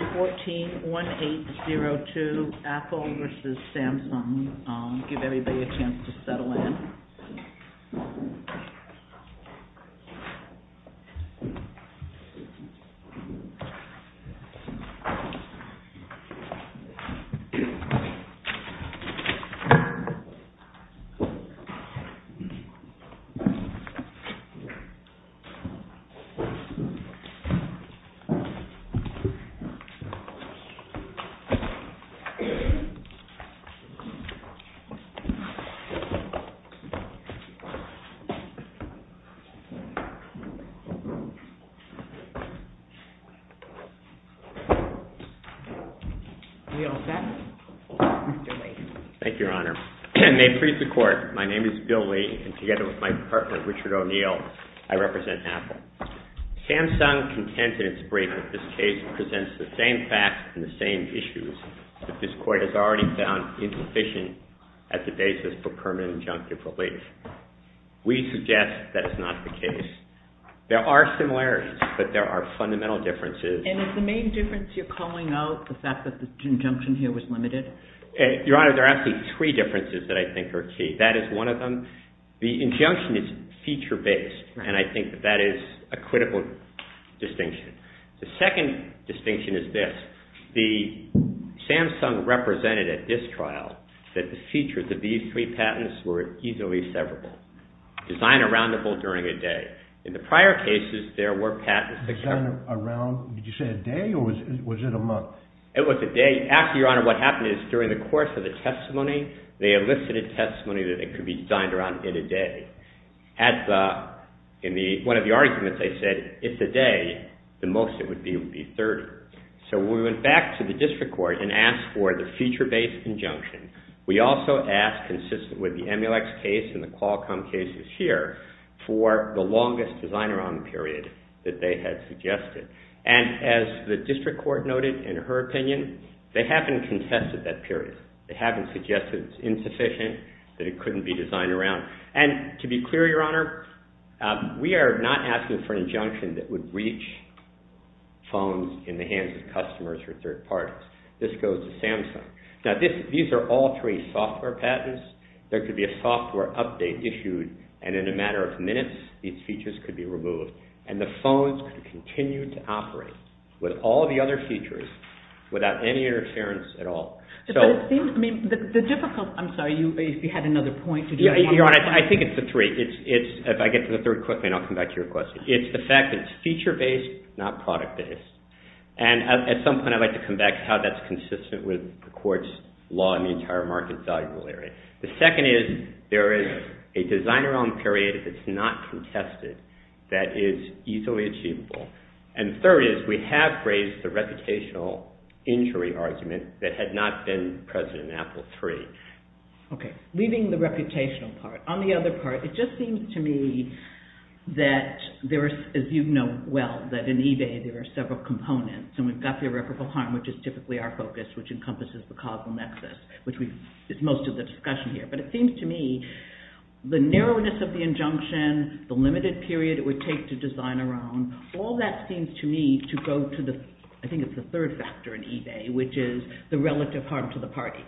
14-1802, Apple v. Samsung. Give everybody a chance to settle in. May it please the Court, my name is Bill Lee and together with my partner Richard O'Neill, I represent Apple. Samsung contented its brief that this case presents the same facts and the same issues that this Court has already found insufficient as the basis for permanent injunctive relief. We suggest that is not the case. There are similarities, but there are fundamental differences. And is the main difference you're calling out the fact that the injunction here was limited? Your Honor, there are actually three differences that I think are key. That is one of them. The injunction is feature-based, and I think that that is a critical distinction. The second distinction is this. The Samsung represented at this trial that the features of these three patents were easily severable. Designed aroundable during a day. In the prior cases, there were patents... Designed around, did you say a day or was it a month? It was a day. Actually, Your Honor, what happened is during the course of the testimony, they elicited testimony that it could be designed around in a day. In one of the arguments, they said if it's a day, the most it would be would be 30. So we went back to the District Court and asked for the feature-based injunction. We also asked, consistent with the Emulex case and the Qualcomm cases here, for the longest design-around period that they had suggested. And as the District Court noted in her opinion, they haven't contested that period. They haven't suggested it's insufficient, that it couldn't be designed around. And to be clear, Your Honor, we are not asking for an injunction that would reach phones in the hands of customers or third parties. This goes to Samsung. Now, these are all three software patents. There could be a software update issued, and in a matter of minutes, these features could be removed. And the phones could continue to operate with all the other features without any interference at all. I'm sorry, you had another point. Your Honor, I think it's the three. If I get to the third quickly, and I'll come back to your question. It's the fact that it's feature-based, not product-based. And at some point, I'd like to come back to how that's consistent with the court's law in the entire market value area. The second is, there is a design-around period that's not contested that is easily achievable. And the third is, we have raised the reputational injury argument that had not been present in Apple III. Okay, leaving the reputational part. On the other part, it just seems to me that there is, as you know well, that in eBay, there are several components. And we've got the irreparable harm, which is typically our focus, which encompasses the causal nexus, which is most of the discussion here. But it seems to me, the narrowness of the injunction, the limited period it would take to design around, all that seems to me to go to the, I think it's the third factor in eBay, which is the relative harm to the party.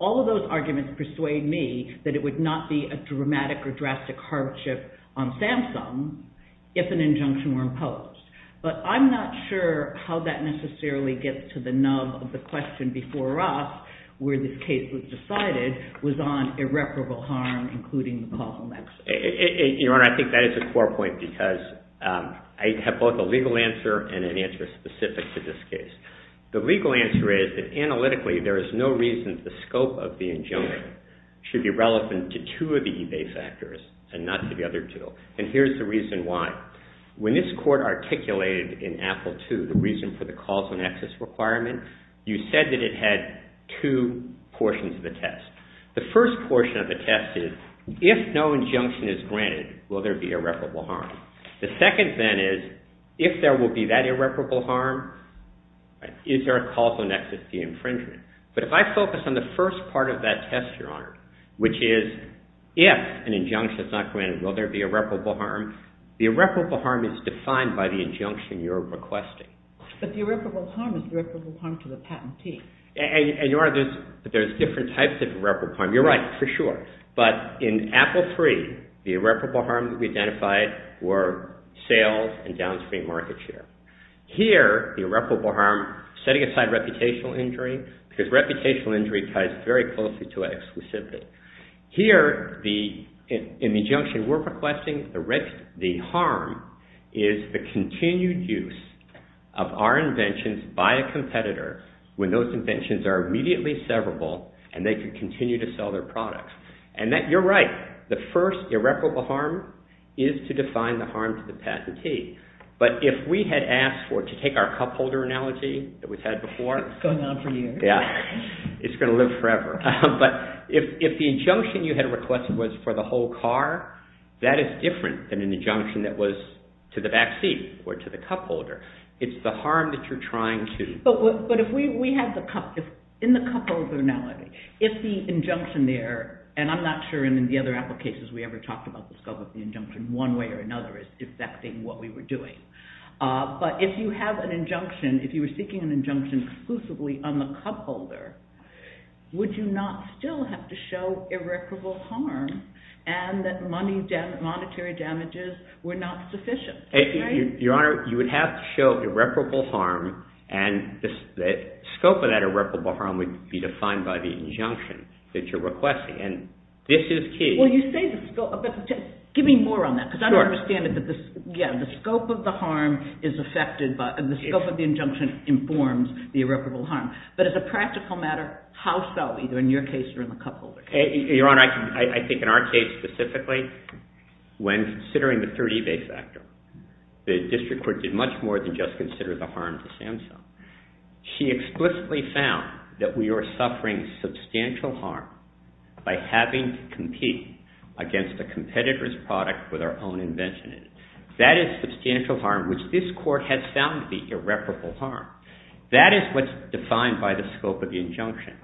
All of those arguments persuade me that it would not be a dramatic or drastic hardship on Samsung if an injunction were imposed. But I'm not sure how that necessarily gets to the nub of the question before us, where this case was decided, was on irreparable harm, including the causal nexus. Your Honor, I think that is a core point because I have both a legal answer and an answer specific to this case. The legal answer is that analytically, there is no reason the scope of the injunction should be relevant to two of the eBay factors and not to the other two. And here's the reason why. When this court articulated in Apple II the reason for the causal nexus requirement, you said that it had two portions of the test. The first portion of the test is, if no injunction is granted, will there be irreparable harm? The second then is, if there will be that irreparable harm, is there a causal nexus to the infringement? But if I focus on the first part of that test, Your Honor, which is if an injunction is not granted, will there be irreparable harm? The irreparable harm is defined by the injunction you're requesting. But the irreparable harm is the irreparable harm to the patentee. And Your Honor, there's different types of irreparable harm. You're right, for sure. But in Apple III, the irreparable harm that we identified were sales and downstream market share. Here, the irreparable harm, setting aside reputational injury, because reputational injury ties very closely to it specifically. Here, in the injunction we're requesting, the harm is the continued use of our inventions by a competitor when those inventions are immediately severable and they could continue to sell their products. And you're right, the first irreparable harm is to define the harm to the patentee. But if we had asked for it to take our cup holder analogy that we've had before... It's going on for years. It's going to live forever. But if the injunction you had requested was for the whole car, that is different than an injunction that was to the back seat or to the cup holder. It's the harm that you're trying to... But in the cup holder analogy, if the injunction there... And I'm not sure in the other Apple cases we ever talked about the scope of the injunction one way or another as affecting what we were doing. But if you have an injunction, if you were seeking an injunction exclusively on the cup holder, would you not still have to show irreparable harm and that monetary damages were not sufficient? Your Honor, you would have to show irreparable harm and the scope of that irreparable harm would be defined by the injunction that you're requesting. And this is key. Well, you say the scope... Give me more on that because I don't understand it. Yeah, the scope of the harm is affected by... The scope of the injunction informs the irreparable harm. But as a practical matter, how so? Either in your case or in the cup holder? Your Honor, I think in our case specifically, when considering the third eBay factor, the district court did much more than just consider the harm to Samsung. She explicitly found that we are suffering substantial harm by having to compete against a competitor's product with our own invention in it. That is substantial harm, which this court has found to be irreparable harm. That is what's defined by the scope of the injunction.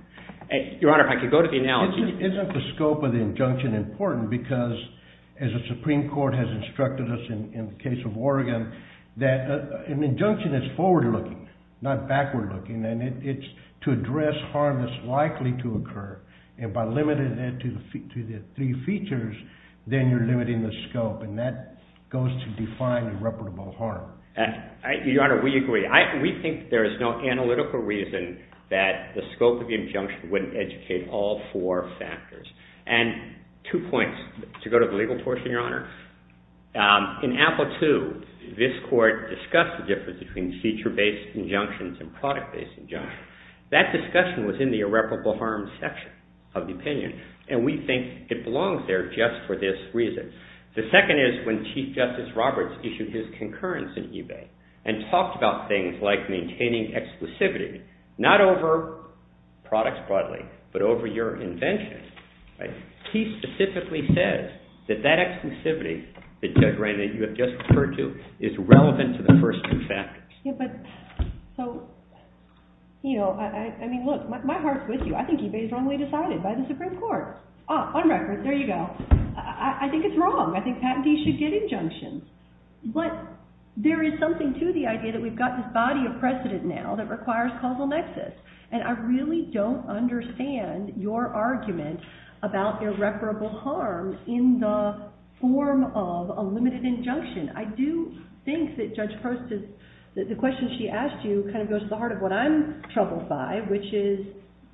Your Honor, if I could go to the analogy... Isn't the scope of the injunction important because, as the Supreme Court has instructed us in the case of Oregon, that an injunction is forward-looking, not backward-looking, and it's to address harm that's likely to occur. And by limiting it to the three features, then you're limiting the scope, and that goes to define irreparable harm. Your Honor, we agree. We think there is no analytical reason that the scope of the injunction wouldn't educate all four factors. And two points. To go to the legal portion, Your Honor, in Apple II, this court discussed the difference between feature-based injunctions and product-based injunctions. That discussion was in the irreparable harm section of the opinion, and we think it belongs there just for this reason. The second is when Chief Justice Roberts issued his concurrence in eBay and talked about things like maintaining exclusivity, not over products broadly, but over your invention, he specifically says that that exclusivity that, Judge Reina, you have just referred to is relevant to the first two factors. But, so, you know, I mean, look, my heart's with you. I think eBay is wrongly decided by the Supreme Court. On record, there you go. I think it's wrong. I think patentees should get injunctions. But there is something to the idea that we've got this body of precedent now that requires causal nexus, and I really don't understand your argument about irreparable harm in the form of a limited injunction. I do think that Judge Post's, the question she asked you, kind of goes to the heart of what I'm troubled by, which is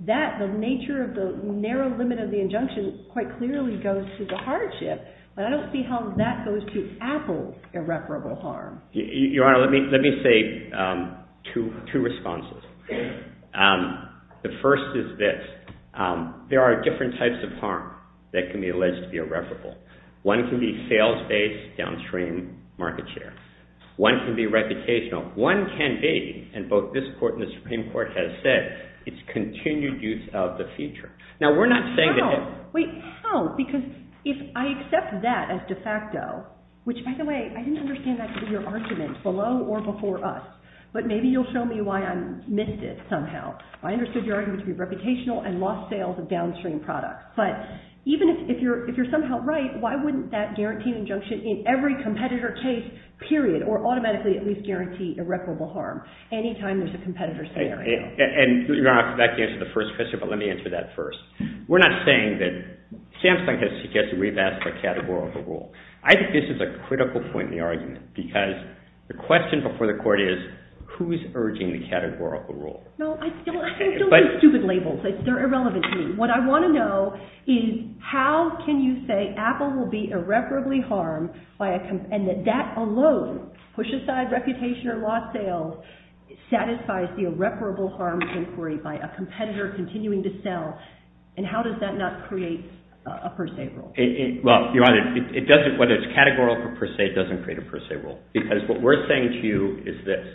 that the nature of the narrow limit of the injunction quite clearly goes to the hardship, but I don't see how that goes to Apple's irreparable harm. Your Honor, let me say two responses. The first is this. There are different types of harm that can be alleged to be irreparable. One can be sales-based downstream market share. One can be reputational. One can be, and both this Court and the Supreme Court have said, it's continued use of the feature. Now, we're not saying that... No, wait, how? Because if I accept that as de facto, which, by the way, I didn't understand that to be your argument below or before us, but maybe you'll show me why I missed it somehow. I understood your argument to be reputational and lost sales of downstream products, but even if you're somehow right, why wouldn't that guarantee injunction in every competitor case, period, or automatically at least guarantee irreparable harm any time there's a competitor scenario? And, Your Honor, that can answer the first question, but let me answer that first. We're not saying that... Samsung has suggested we've asked for a category overrule. I think this is a critical point in the argument because the question before the Court is, who's urging the categorical rule? No, I still think stupid labels. They're irrelevant to me. What I want to know is how can you say Apple will be irreparably harmed and that that alone, push aside reputation or lost sales, satisfies the irreparable harm inquiry by a competitor continuing to sell, and how does that not create a per se rule? Well, Your Honor, whether it's categorical or per se, it doesn't create a per se rule because what we're saying to you is this.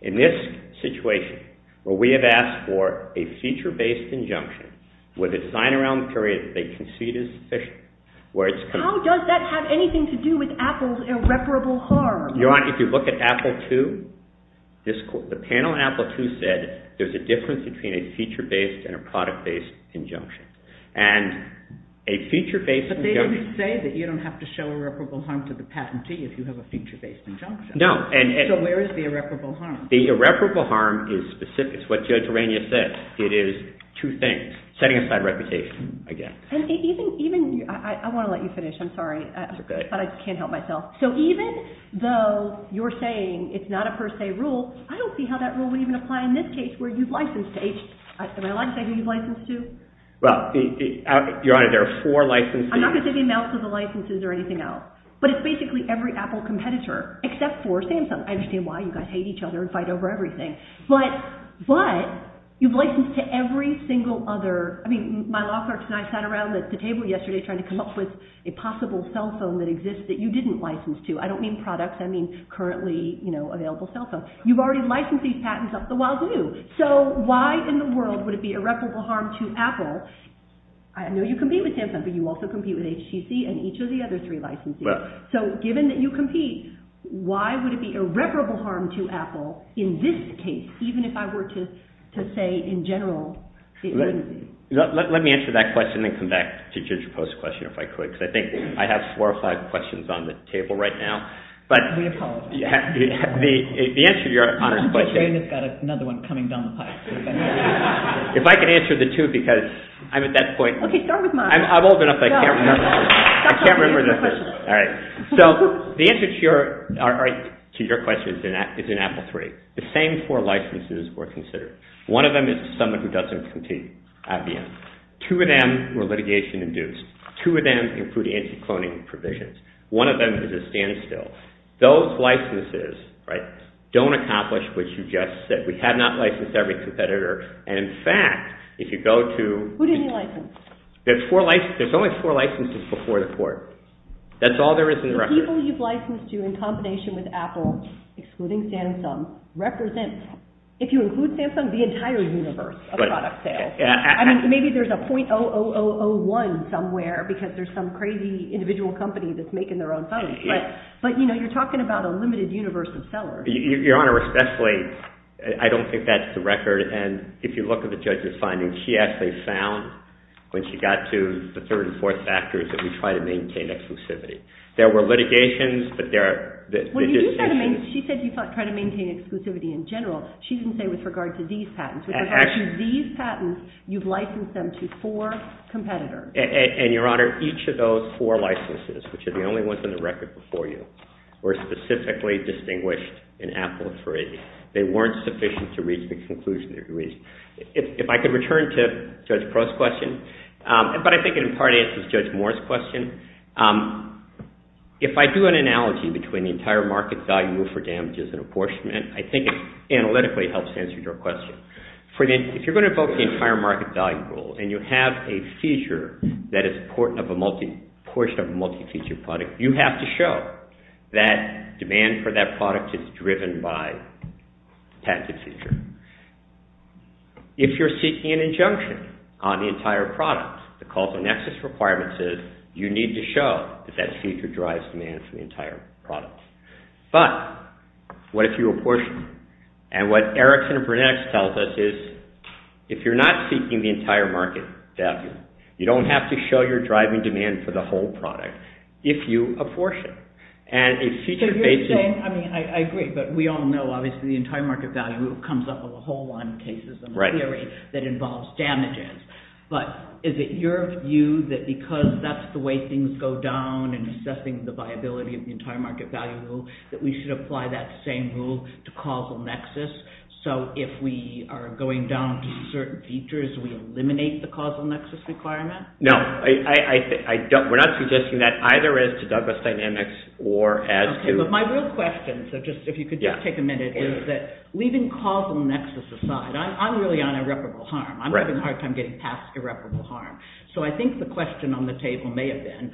In this situation, where we have asked for a feature-based injunction, with a design around the period they concede is sufficient, where it's... How does that have anything to do with Apple's irreparable harm? Your Honor, if you look at Apple II, the panel in Apple II said there's a difference between a feature-based and a product-based injunction. And a feature-based injunction... But they didn't say that you don't have to show irreparable harm to the patentee if you have a feature-based injunction. No, and... So where is the irreparable harm? The irreparable harm is specific. It's what Joe Terrania said. It is two things. Setting aside reputation, I guess. And even... I want to let you finish. I'm sorry. But I can't help myself. So even though you're saying it's not a per se rule, I don't see how that rule would even apply in this case where you've licensed to each... Am I allowed to say who you've licensed to? Well, Your Honor, there are four licenses... I'm not going to say the amounts of the licenses or anything else. But it's basically every Apple competitor except for Samsung. I understand why you guys hate each other and fight over everything. But you've licensed to every single other... I mean, my law clerk tonight sat around the table yesterday trying to come up with a possible cell phone that exists that you didn't license to. I don't mean products. I mean currently available cell phones. You've already licensed these patents up the wazoo. So why in the world would it be irreparable harm to Apple? I know you compete with Samsung, but you also compete with HTC and each of the other three licenses. So given that you compete, why would it be irreparable harm to Apple in this case even if I were to say in general... Let me answer that question and then come back to Ginger Post a question if I could because I think I have four or five questions on the table right now. We apologize. The answer to Your Honor's question... I'm just saying it's got another one coming down the pipe. If I could answer the two because I'm at that point... Okay, start with mine. I'm old enough. I can't remember the first one. So the answer to your question is in Apple III. The same four licenses were considered. One of them is to someone who doesn't compete at the end. Two of them were litigation-induced. Two of them include anti-cloning provisions. One of them is a standstill. Those licenses don't accomplish what you just said. We have not licensed every competitor. And in fact, if you go to... Who did you license? There's only four licenses before the court. That's all there is in the record. The people you've licensed to in combination with Apple, excluding Samsung, represent, if you include Samsung, the entire universe of product sales. I mean, maybe there's a .00001 somewhere because there's some crazy individual company that's making their own phones. But you're talking about a limited universe of sellers. Your Honor, especially, I don't think that's the record. And if you look at the judge's findings, she actually found, when she got to the third and fourth factors, that we try to maintain exclusivity. There were litigations, but there are... She said you try to maintain exclusivity in general. She didn't say with regard to these patents. With regard to these patents, you've licensed them to four competitors. And, Your Honor, each of those four licenses, which are the only ones in the record before you, were specifically distinguished in Apple III. They weren't sufficient to reach the conclusion they reached. If I could return to Judge Crow's question, but I think it in part answers Judge Moore's question. If I do an analogy between the entire market value for damages and apportionment, I think it analytically helps answer your question. If you're going to invoke the entire market value rule and you have a feature that is a portion of a multi-feature product, you have to show that demand for that product is driven by patented feature. If you're seeking an injunction on the entire product, the cost of nexus requirements is you need to show that that feature drives demand for the entire product. But, what if you apportion? And what Erickson and Burnett tells us is if you're not seeking the entire market value, you don't have to show your driving demand for the whole product if you apportion. And a feature based... So you're saying, I mean, I agree, but we all know, obviously, the entire market value rule comes up with a whole lot of cases in the theory that involves damages. But is it your view that because that's the way things go down in assessing the viability of the entire market value rule that we should apply that same rule to causal nexus? So if we are going down to certain features, we eliminate the causal nexus requirement? No, we're not suggesting that, either as to Douglas Dynamics or as to... My real question, if you could just take a minute, is that leaving causal nexus aside, I'm really on irreparable harm. I'm having a hard time getting past irreparable harm. So I think the question on the table may have been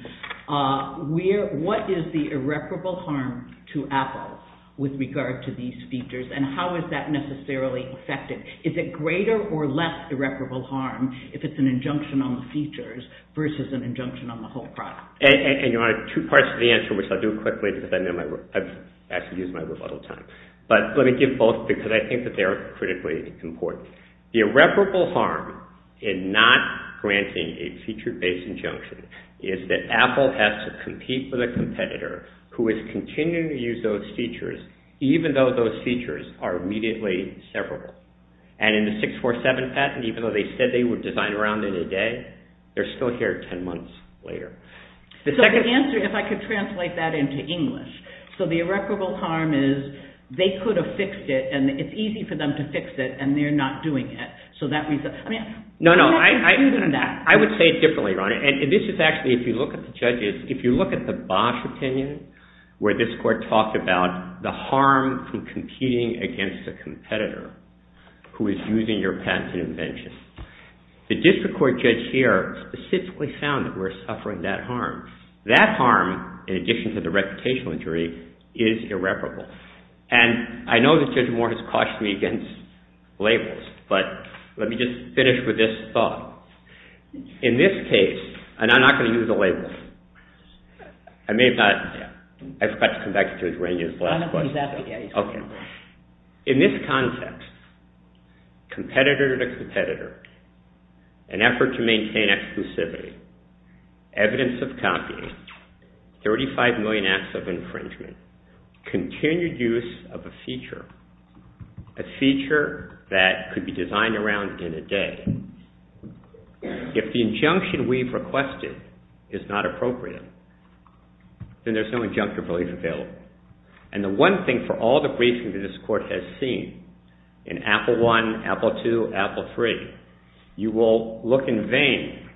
what is the irreparable harm to Apple with regard to these features and how is that necessarily affected? Is it greater or less irreparable harm if it's an injunction on the features versus an injunction on the whole product? And you want two parts to the answer, which I'll do quickly because I've actually used my rebuttal time. But let me give both because I think that they are critically important. The irreparable harm in not granting a feature-based injunction is that Apple has to compete with a competitor who is continuing to use those features even though those features are immediately severable. And in the 647 patent, even though they said they would design around it in a day, they're still here 10 months later. So the answer, if I could translate that into English. So the irreparable harm is they could have fixed it and it's easy for them to fix it and they're not doing it. No, no, I would say it differently, Ron. And this is actually, if you look at the judges, if you look at the Bosch opinion where this court talked about the harm from competing against a competitor who is using your patent and invention. The district court judge here specifically found that we're suffering that harm. That harm, in addition to the reputational injury, is irreparable. And I know that Judge Moore has cautioned me against labels, but let me just finish with this thought. In this case, and I'm not going to use a label. I may have not... I forgot to come back to Judge Ranney's last question. Exactly. In this context, competitor to competitor, an effort to maintain exclusivity, evidence of copying, 35 million acts of infringement, continued use of a feature, a feature that could be designed around in a day. If the injunction we've requested is not appropriate, then there's no injunctive relief available. And the one thing for all the briefings that this court has seen in Apple I, Apple II, Apple III, you will look in vain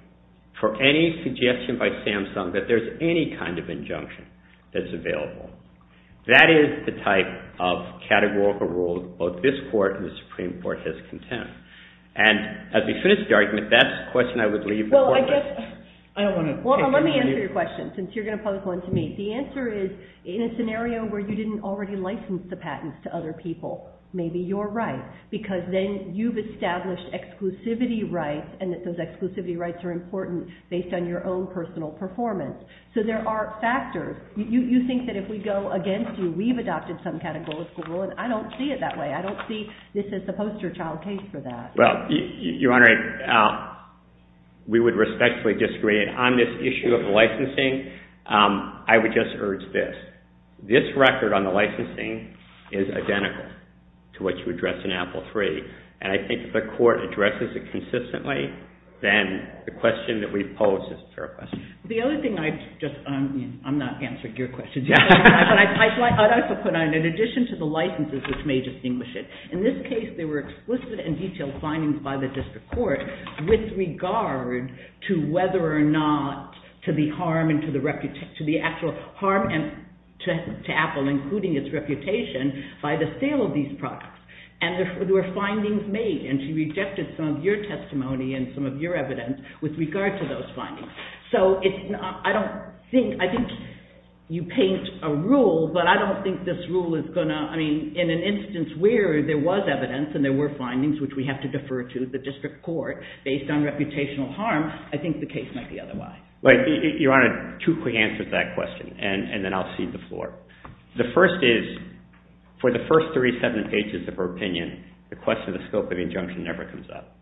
for any suggestion by Samsung that there's any kind of injunction that's available. That is the type of categorical rule both this court and the Supreme Court has contended. And as we finish the argument, that's the question I would leave the court with. Well, I guess, I don't want to... Hold on, let me answer your question, since you're going to public one to me. The answer is, in a scenario where you didn't already license the patents to other people, maybe you're right, because then you've established exclusivity rights and that those exclusivity rights are important based on your own personal performance. So there are factors. You think that if we go against you, we've adopted some categorical rule, and I don't see it that way. I don't see this as a poster child case for that. Well, Your Honor, we would respectfully disagree. On this issue of the licensing, I would just urge this. This record on the licensing is identical. To what you addressed in Apple III. And I think if the court addresses it consistently, then the question that we pose is a fair question. The other thing I just... I'm not answering your questions. But I'd also put on, in addition to the licenses which may distinguish it, in this case, there were explicit and detailed findings by the district court with regard to whether or not to the actual harm to Apple, including its reputation, by the sale of these products. And there were findings made, and she rejected some of your testimony and some of your evidence with regard to those findings. So I don't think... I think you paint a rule, but I don't think this rule is going to... I mean, in an instance where there was evidence and there were findings, which we have to defer to the district court based on reputational harm, I think the case might be otherwise. Right. Your Honor, two quick answers to that question, and then I'll cede the floor. The first is, for the first three, seven pages of her opinion, the question of the scope of injunction never comes up.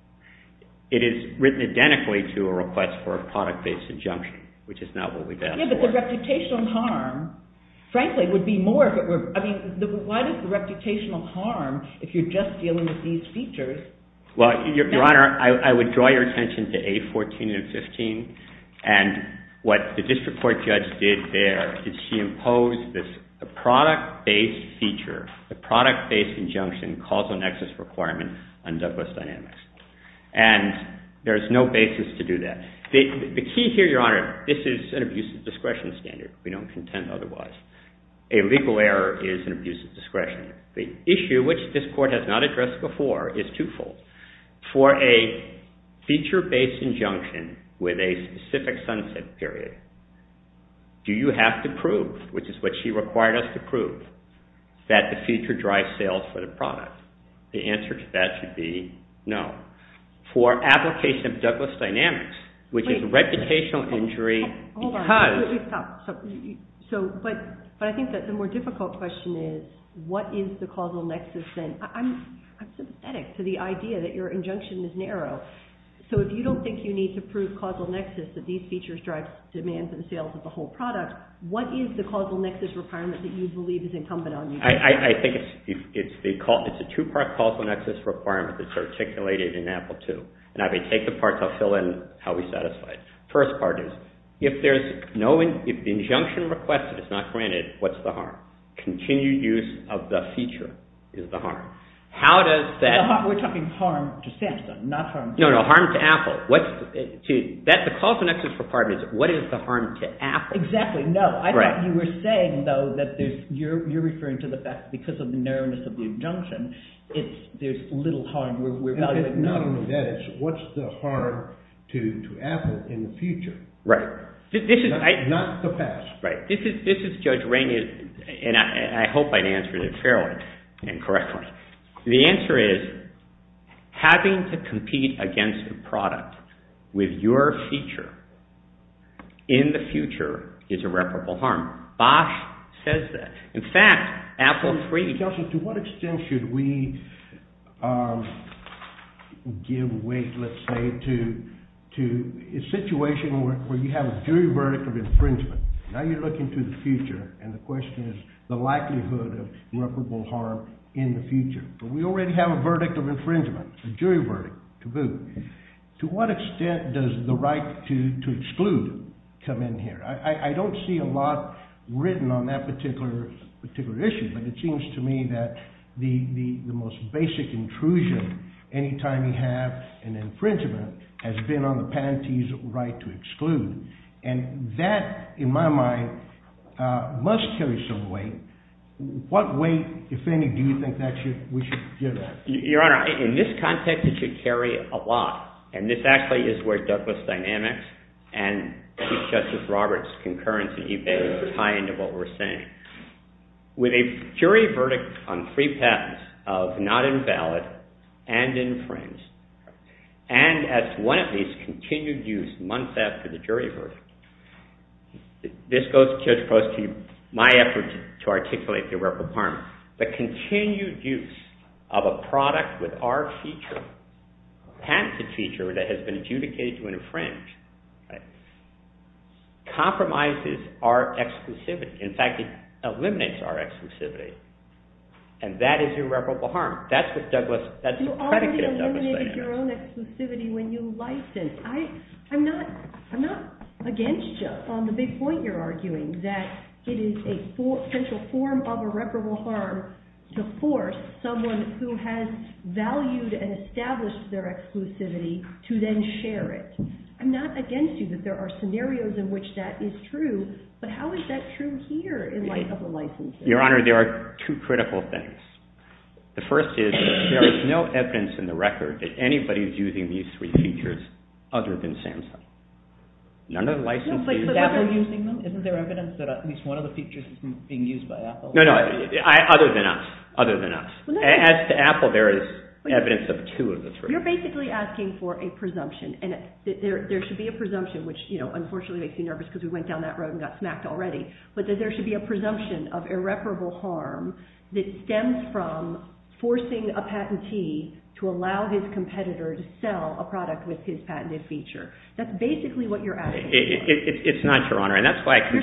It is written identically to a request for a product-based injunction, which is not what we've asked for. Yeah, but the reputational harm, frankly, would be more if it were... I mean, why does the reputational harm, if you're just dealing with these features... Well, Your Honor, I would draw your attention to A14 and 15, and what the district court judge did there is she imposed this product-based feature, a product-based injunction, causal nexus requirement on Douglas Dynamics. And there's no basis to do that. The key here, Your Honor, this is an abuse of discretion standard. We don't contend otherwise. A legal error is an abuse of discretion. The issue, which this court has not addressed before, is twofold. For a feature-based injunction with a specific sunset period, do you have to prove, which is what she required us to prove, that the feature drives sales for the product? The answer to that should be no. For application of Douglas Dynamics, which is a reputational injury because... Hold on. Let me stop. But I think that the more difficult question is what is the causal nexus then? I'm sympathetic to the idea that your injunction is narrow. So if you don't think you need to prove causal nexus that these features drive demands and sales of the whole product, what is the causal nexus requirement that you believe is incumbent on you? I think it's a two-part causal nexus requirement that's articulated in Apple II. And I may take the parts. I'll fill in how we satisfy it. First part is, if the injunction requested is not granted, what's the harm? Continued use of the feature is the harm. How does that... We're talking harm to Samsung, not harm to Apple. No, no, harm to Apple. The causal nexus requirement is, what is the harm to Apple? Exactly, no. I thought you were saying, though, that you're referring to the fact because of the narrowness of the injunction, there's little harm. We're valuing... Not only that, it's what's the harm to Apple in the future? Right. Not the past. Right. This is Judge Rainey, and I hope I answered it fairly and correctly. The answer is having to compete against a product with your feature in the future is irreparable harm. Bosch says that. In fact, Apple III... To what extent should we give weight, let's say, to a situation where you have a jury verdict of infringement? and the question is the likelihood of irreparable harm in the future. But we already have a verdict of infringement, a jury verdict, taboo. To what extent does the right to exclude come in here? I don't see a lot written on that particular issue, but it seems to me that the most basic intrusion any time you have an infringement has been on the penalty's right to exclude. And that, in my mind, must carry some weight. What weight, if any, do you think we should give that? Your Honor, in this context, it should carry a lot. And this actually is where Douglas Dynamics and Chief Justice Roberts' concurrency evades the high end of what we're saying. With a jury verdict on three patents of not invalid and infringed, and as one of these, continued use months after the jury verdict, this goes close to my effort to articulate irreparable harm. The continued use of a product with our patented feature that has been adjudicated to infringe compromises our exclusivity. In fact, it eliminates our exclusivity. And that is irreparable harm. That's the predicate of Douglas Dynamics. You already eliminated your own exclusivity when you licensed. I'm not against you on the big point you're arguing, that it is a potential form of irreparable harm to force someone who has valued and established their exclusivity to then share it. I'm not against you that there are scenarios in which that is true, but how is that true here in light of the licenses? Your Honor, there are two critical things. The first is, there is no evidence in the record that anybody is using these three features other than SAMHSA. None of the licenses... Is Apple using them? Isn't there evidence that at least one of the features is being used by Apple? No, no. Other than us. Other than us. As to Apple, there is evidence of two of the three. You're basically asking for a presumption. There should be a presumption, which unfortunately makes me nervous because we went down that road and got smacked already, but there should be a presumption of irreparable harm that stems from forcing a patentee to allow his competitor to sell a product with his patented feature. That's basically what you're asking for. It's not, Your Honor, and that's why... But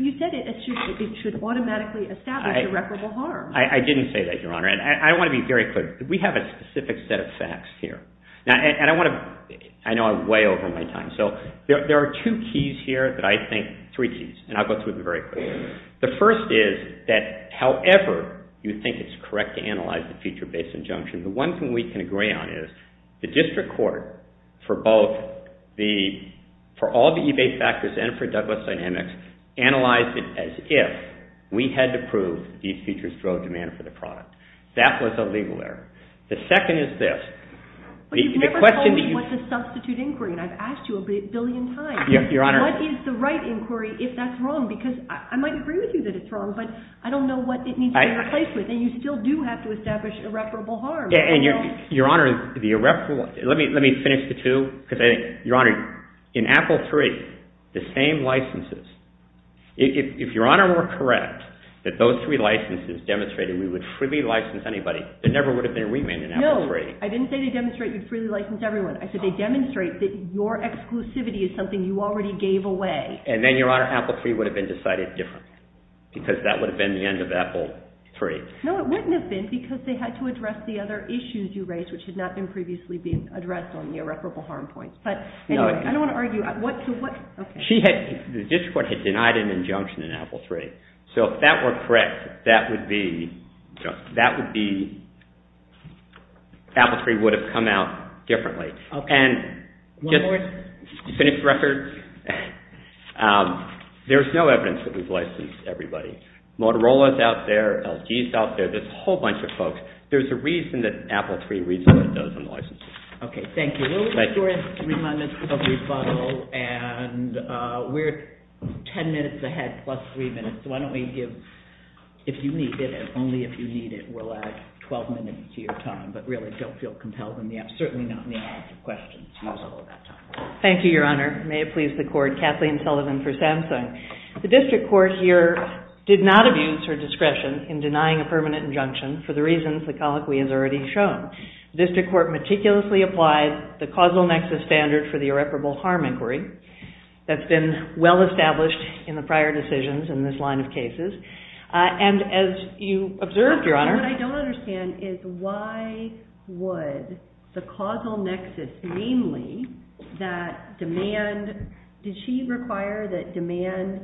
you said it should automatically establish irreparable harm. I didn't say that, Your Honor, and I want to be very clear. We have a specific set of facts here. And I want to... I know I'm way over my time, so there are two keys here that I think... three keys, and I'll go through them very quickly. The first is that however you think it's correct to analyze the feature-based injunction, the one thing we can agree on is the district court for both the... for all the eBay factors and for Douglas Dynamics analyzed it as if we had to prove these features drove demand for the product. That was a legal error. The second is this. But you've never told me what's a substitute inquiry, and I've asked you a billion times. What is the right inquiry if that's wrong? Because I might agree with you that it's wrong, but I don't know what it needs to be replaced with, and you still do have to establish irreparable harm. And, Your Honor, the irreparable... Let me finish the two, because, Your Honor, in Apple III, the same licenses... If Your Honor were correct that those three licenses demonstrated we would freely license anybody, there never would have been a remand in Apple III. No, I didn't say they demonstrate you'd freely license everyone. I said they demonstrate that your exclusivity is something you already gave away. And then, Your Honor, Apple III would have been decided differently because that would have been the end of Apple III. No, it wouldn't have been because they had to address the other issues you raised, which had not been previously addressed on the irreparable harm point. But, anyway, I don't want to argue... She had... The district court had denied an injunction in Apple III. So, if that were correct, that would be... That would be... Apple III would have come out differently. And... One more... You finished the record? that we've licensed everybody. Motorola's out there. LG's out there. There's a whole bunch of folks. There's a reason that Apple III resulted in those unlicensed people. Okay, thank you. We'll restore it in three minutes with a rebuttal. And we're ten minutes ahead plus three minutes. So, why don't we give... If you need it, only if you need it, we'll add 12 minutes to your time. But, really, don't feel compelled in the absence... Certainly not in the absence of questions. Use all of that time. Thank you, Your Honor. May it please the Court. Kathleen Sullivan for Samsung. The district court here did not abuse her discretion in denying a permanent injunction for the reasons the colloquy has already shown. The district court meticulously applied the causal nexus standard for the irreparable harm inquiry that's been well established in the prior decisions in this line of cases. And, as you observed, Your Honor... What I don't understand is why would the causal nexus, namely, that demand... Did she require that demand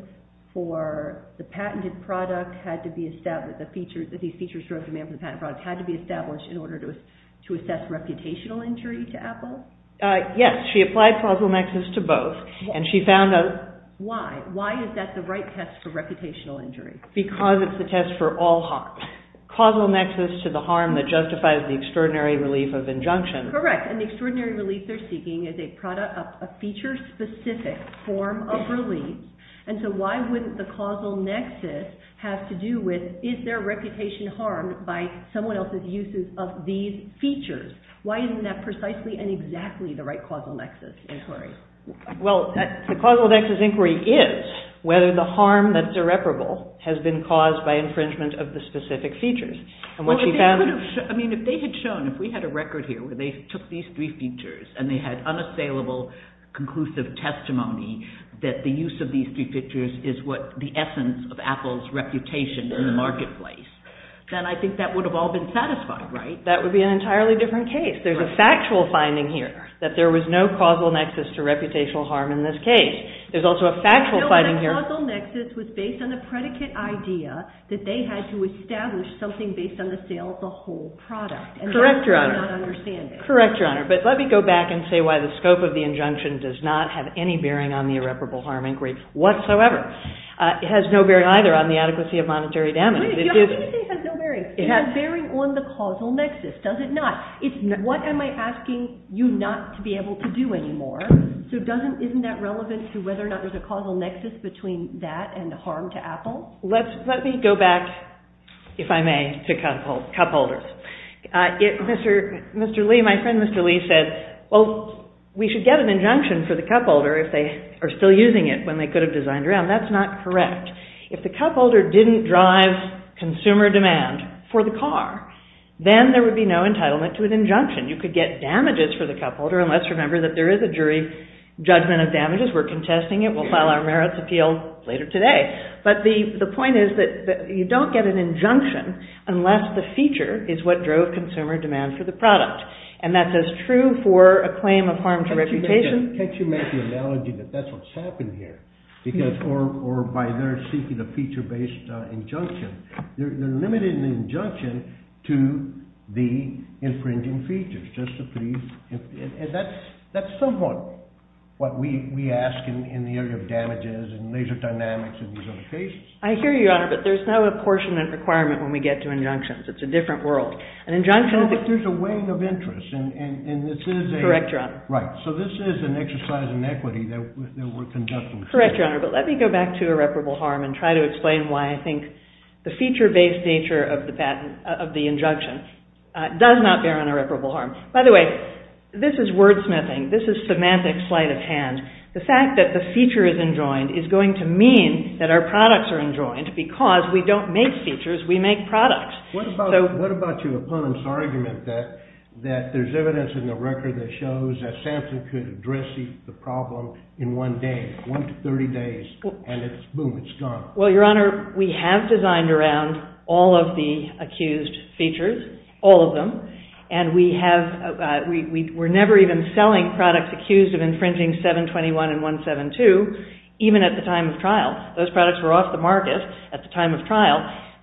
for the patented product had to be established? Did she require that these features drove demand for the patent products had to be established in order to assess reputational injury to Apple? Yes. She applied causal nexus to both. And she found a... Why? Why is that the right test for reputational injury? Because it's the test for all harm. Causal nexus to the harm that justifies the extraordinary relief of injunction. Correct. And the extraordinary relief they're seeking is a feature-specific form of relief. And so why wouldn't the causal nexus have to do with is their reputation harmed by someone else's uses of these features? Why isn't that precisely and exactly the right causal nexus inquiry? Well, the causal nexus inquiry is whether the harm that's irreparable has been caused by infringement of the specific features. And what she found... Well, if they could have... I mean, if they had shown... If we had a record here where they took these three features and they had unassailable conclusive testimony that the use of these three features is what the essence of Apple's reputation in the marketplace, then I think that would have all been satisfied, right? That would be an entirely different case. There's a factual finding here that there was no causal nexus to reputational harm in this case. There's also a factual finding here... No, that causal nexus was based on the predicate idea that they had to establish something based on the sale of the whole product. Correct, Your Honor. And that's why I don't understand it. Correct, Your Honor. But let me go back and say why the scope of the injunction does not have any bearing on the irreparable harm inquiry whatsoever. It has no bearing either on the adequacy of monetary damage. Wait a minute. You have to say it has no bearing. It has bearing on the causal nexus, does it not? What am I asking you not to be able to do anymore? So isn't that relevant to whether or not there's a causal nexus between that and the harm to Apple? Let me go back, if I may, to cupholders. Mr. Lee, my friend Mr. Lee, said, well, we should get an injunction for the cupholder if they are still using it when they could have designed around. That's not correct. If the cupholder didn't drive consumer demand for the car, then there would be no entitlement to an injunction. You could get damages for the cupholder unless, remember, that there is a jury judgment of damages. We're contesting it. We'll file our merits appeal later today. But the point is that you don't get an injunction unless the feature is what drove consumer demand for the product. And that's as true for a claim of harm to reputation. Can't you make the analogy that that's what's happened here? Or by their seeking a feature-based injunction. They're limiting the injunction to the infringing features. Just a brief... And that's somewhat what we ask in the area of damages and laser dynamics and these other cases. I hear you, Your Honor, but there's no apportionment requirement when we get to injunctions. It's a different world. An injunction... a weighing of interest. And this is a... Correct, Your Honor. Right. So this is an exercise in equity that we're conducting. Correct, Your Honor. But let me go back to irreparable harm and try to explain why I think the feature-based nature of the patent... of the injunction does not bear on irreparable harm. By the way, this is wordsmithing. This is semantic sleight of hand. The fact that the feature is enjoined is going to mean that our products are enjoined because we don't make features, we make products. What about your opponent's argument that there's evidence in the record that shows that Samson could address the problem in one day, one to 30 days, and it's... boom, it's gone? Well, Your Honor, we have designed around all of the accused features, all of them, and we have... we're never even selling products accused of infringing 721 and 172, even at the time of trial. Those products were off the market at the time of trial.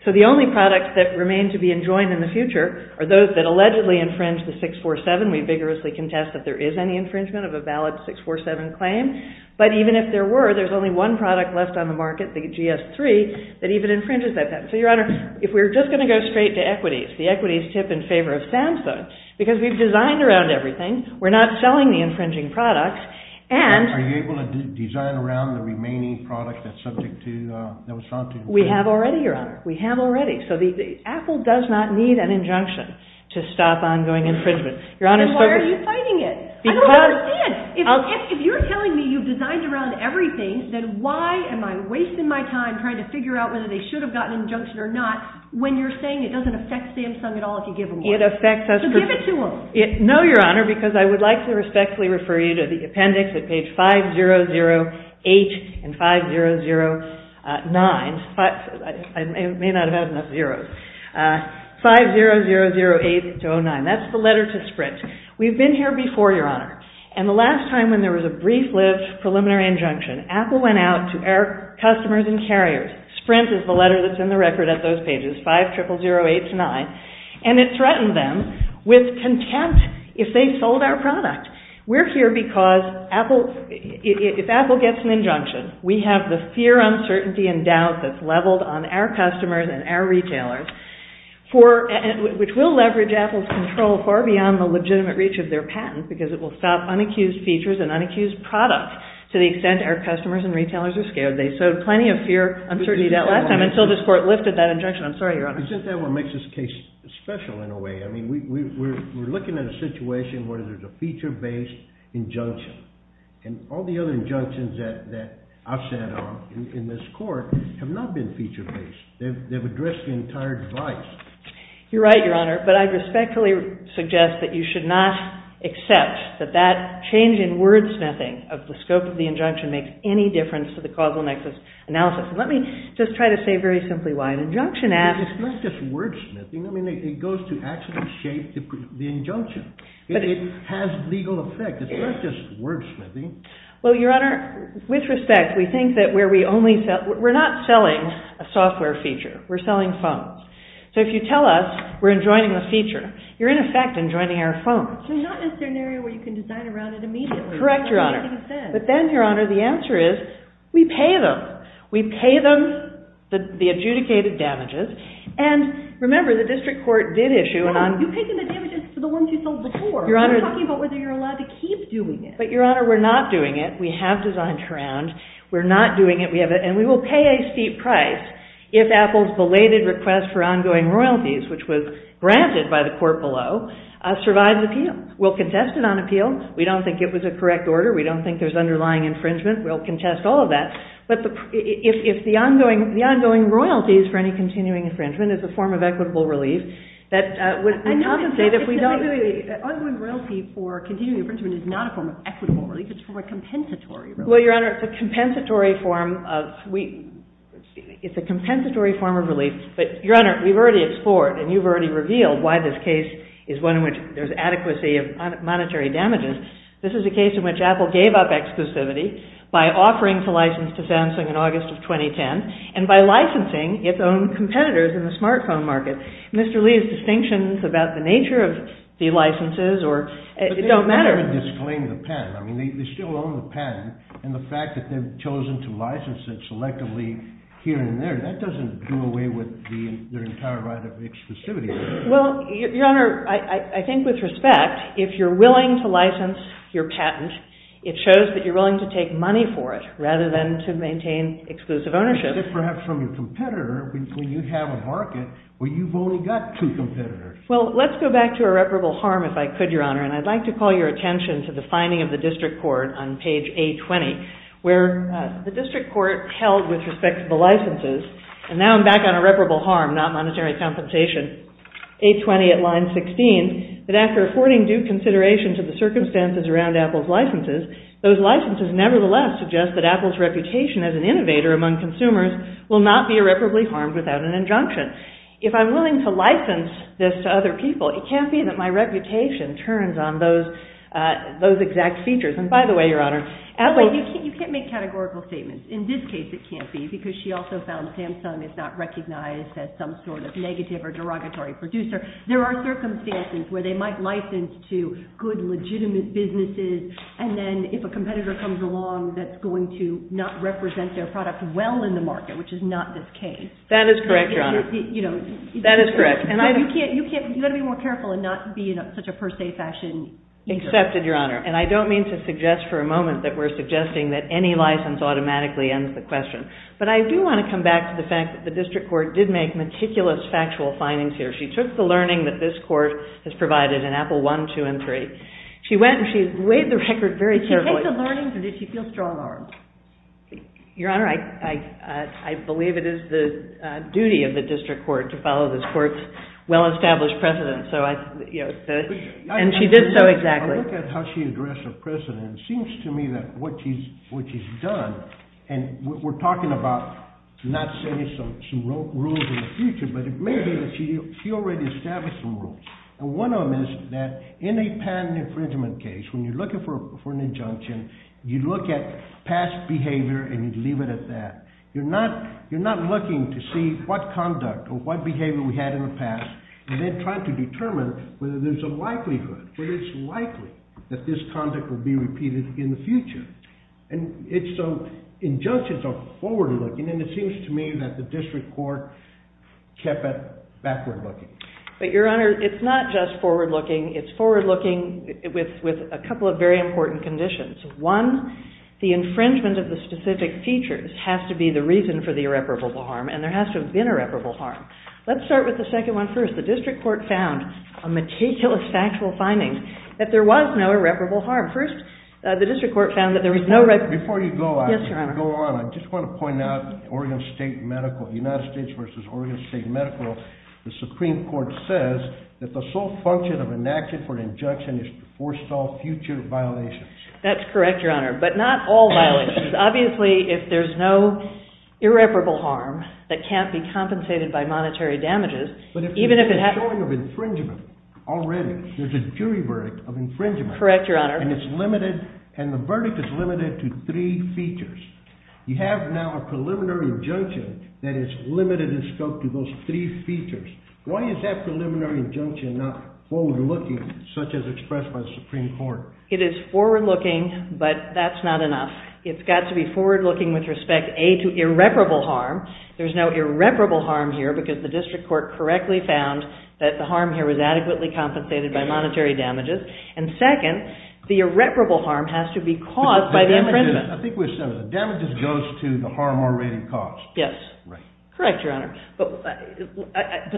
So the only products that remain to be enjoined in the future are those that allegedly infringe the 647. We vigorously contest that there is any infringement of a valid 647 claim, but even if there were, there's only one product left on the market, the GS3, that even infringes that patent. So, Your Honor, if we're just going to go straight to equities, the equities tip in favor of Samson, because we've designed around everything, we're not selling the infringing products, and... Are you able to design around the remaining product that's subject to... We have already, Your Honor. We have already. So the... Apple does not need an injunction to stop ongoing infringement. Your Honor... Why are you fighting it? I don't understand. If you're telling me you've designed around everything, then why am I wasting my time trying to figure out whether they should have gotten an injunction or not, when you're saying it doesn't affect Samsung at all if you give them one? It affects us... So give it to them. No, Your Honor, because I would like to respectfully refer you to the appendix at page 5008 and 5009. I may not have had enough zeros. 50008-09. That's the letter to Sprint. We've been here before, Your Honor. And the last time when there was a brief-lived preliminary injunction, Apple went out to our customers and carriers. Sprint is the letter that's in the record at those pages. 50008-09. And it threatened them with contempt if they sold our product. We're here because Apple... If Apple gets an injunction, we have the fear, uncertainty, and doubt that's leveled on our customers and our retailers for... which will leverage Apple's control far beyond the legitimate reach of their patent because it will stop unaccused features and unaccused products to the extent our customers and retailers are scared. They sowed plenty of fear, uncertainty, doubt last time until this court lifted that injunction. I'm sorry, Your Honor. Isn't that what makes this case special in a way? I mean, we're looking at a situation where there's a feature-based injunction. And all the other injunctions that I've sat on in this court have not been feature-based. They've addressed the entire device. You're right, Your Honor. But I respectfully suggest that you should not accept that that change in wordsmithing of the scope of the injunction makes any difference to the causal nexus analysis. Let me just try to say very simply why. An injunction act... It's not just wordsmithing. I mean, it goes to actually shape the injunction. It has legal effect. It's not just wordsmithing. Well, Your Honor, with respect, we think that where we only... We're not selling a software feature. We're selling phones. So if you tell us we're enjoining the feature, you're in effect enjoining our phone. So not necessarily where you can design around it immediately. Correct, Your Honor. But then, Your Honor, the answer is we pay them. We pay them the adjudicated damages. And remember, the district court did issue... Well, you pay them the damages for the ones you sold before. We're talking about whether you're allowed to keep doing it. But, Your Honor, we're not doing it. We have designed around. We're not doing it. And we will pay a steep price if Apple's belated request for ongoing royalties, which was granted by the court below, survives appeal. We'll contest it on appeal. We don't think it was a correct order. We don't think there's underlying infringement. We'll contest all of that. But if the ongoing royalties for any continuing infringement is a form of equitable relief, that would say that we don't... If the ongoing infringement is not a form of equitable relief, it's a compensatory relief. Well, Your Honor, it's a compensatory form of... It's a compensatory form of relief. But, Your Honor, we've already explored and you've already revealed why this case is one in which there's adequacy of monetary damages. This is a case in which Apple gave up exclusivity by offering to license to Samsung in August of 2010 and by licensing its own competitors in the smartphone market. Mr. Lee's distinctions about the nature of the licenses or... It doesn't even disclaim the patent. I mean, they still own the patent and the fact that they've chosen to license it selectively here and there, that doesn't do away with their entire right of exclusivity. Well, Your Honor, I think with respect, if you're willing to license your patent, it shows that you're willing to take money for it rather than to maintain exclusive ownership. Except perhaps from your competitor when you have a market where you've only got two competitors. Well, let's go back to irreparable harm if I could, Your Honor, and I'd like to call your attention to the finding of the district court on page A-20 where the district court held with respect to the licenses, and now I'm back on irreparable harm, not monetary compensation, A-20 at line 16, that after affording due consideration to the circumstances around Apple's licenses, those licenses nevertheless suggest that Apple's reputation as an innovator among consumers will not be irreparably harmed without an injunction. If I'm willing to license this to other people, it can't be that my reputation turns on those exact features. And by the way, Your Honor, Apple... You can't make categorical statements. In this case, it can't be because she also found Samsung is not recognized as some sort of negative or derogatory producer. There are circumstances where they might license to good, legitimate businesses, and then if a competitor comes along that's going to not represent their product well in the market, which is not this case. That is correct, Your Honor. That is correct. You've got to be more careful and not be in such a per se fashion. Accepted, Your Honor. And I don't mean to suggest for a moment that we're suggesting that any license automatically ends the question. But I do want to come back to the fact that the district court did make meticulous factual findings here. She took the learning that this court has provided in Apple I, II, and III. She went and she weighed the record very carefully. Did she take the learning or did she feel strong arms? Your Honor, I believe it is the duty of the district court to follow this court's well-established precedent. And she did so exactly. I look at how she addressed her precedent. It seems to me that what she's done and we're talking about not setting some rules in the future, but it may be that she already established some rules. And one of them is that in a patent infringement case, past behavior and you leave it at that. You're not looking to see what conduct or what behavior was done in the past and you leave it at that. You're not looking at what behavior we had in the past and then trying to determine whether there's a likelihood, whether it's likely that this conduct will be repeated in the future. And so injunctions are forward-looking and it seems to me that the district court kept it backward-looking. But Your Honor, it's not just forward-looking. It's forward-looking with a couple of very important conditions. One, the infringement of the specific features has to be the reason for the irreparable harm and there has to have been irreparable harm. Let's start with the second one first. The district court found a meticulous factual finding that there was no irreparable harm. First, the district court found that there was no... Before you go on, I just want to point out Oregon State Medical, United States versus Oregon State Medical, the Supreme Court says that the sole function of an action for an injunction is to forestall future violations. That's correct, Your Honor, but not all violations. Obviously, if there's no irreparable harm that can't be compensated by monetary damages, even if it happens... But if there's a showing of infringement already, there's a jury verdict of infringement. Correct, Your Honor. And it's limited and the verdict is limited to three features. You have now a preliminary injunction that is limited in scope to those three features. Why is that preliminary injunction not forward-looking such as expressed by the Supreme Court? It is forward-looking, but that's not enough. It's got to be forward-looking with respect, A, to irreparable harm. There's no irreparable harm here because the district court correctly found that the harm here was adequately compensated by monetary damages. And, second, the irreparable harm has to be caused by the infringement. I think we've said that the damages goes to the harm already caused. Yes. Right. Correct, Your Honor. But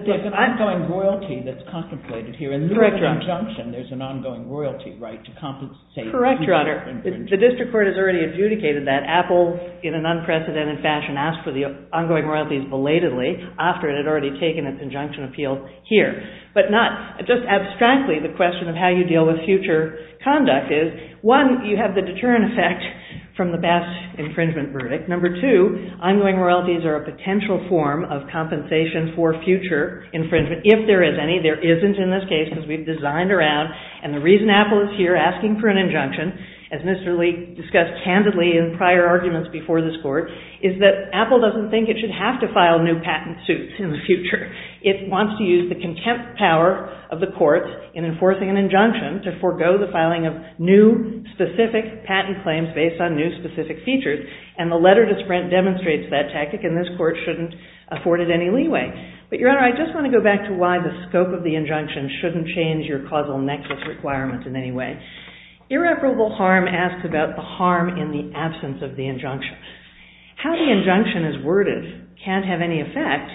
there's an ongoing royalty that's contemplated here. Correct, Your Honor. In this injunction, there's an ongoing royalty right to compensate... Correct, Your Honor. The district court has already adjudicated that. Apple, in an unprecedented fashion, asked for the ongoing royalties belatedly after it had already taken its injunction appeal here. But not... Just abstractly, the question of how you deal with future conduct is, one, you have the deterrent effect from the Basque infringement verdict. Number two, ongoing royalties are a potential form of compensation for future infringement if there is any. There isn't in this case because we've designed around. And the reason Apple is here asking for an injunction, as Mr. Leake discussed candidly in prior arguments before this court, is that Apple doesn't think it should have to file new patent suits in the future. It wants to use the contempt power of the court in enforcing an injunction to forego the filing of new, specific, patent claims based on new, specific features. And the letter to Sprint demonstrates that tactic and this court shouldn't afford it any leeway. But, Your Honor, I just want to go back to why the scope of the injunction shouldn't change your causal nexus requirements in any way. Irreparable harm asks about the harm in the absence of the injunction. How the injunction is worded can't have any effect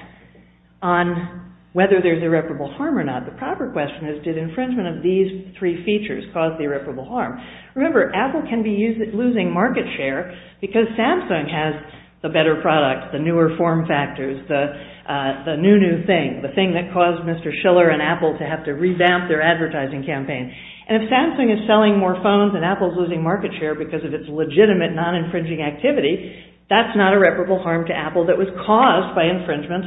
on whether there's irreparable harm or not. The proper question is, did infringement of these three features cause the irreparable harm? Remember, Apple can be losing market share because Samsung has the better product, the newer form factors, the new, new thing, the thing that caused Mr. Schiller and Apple to have to revamp their advertising campaign. And if Samsung is selling more phones and Apple is losing market share, Apple is losing market share because of its legitimate non-infringing activity. That's not irreparable harm to Apple that was caused by infringement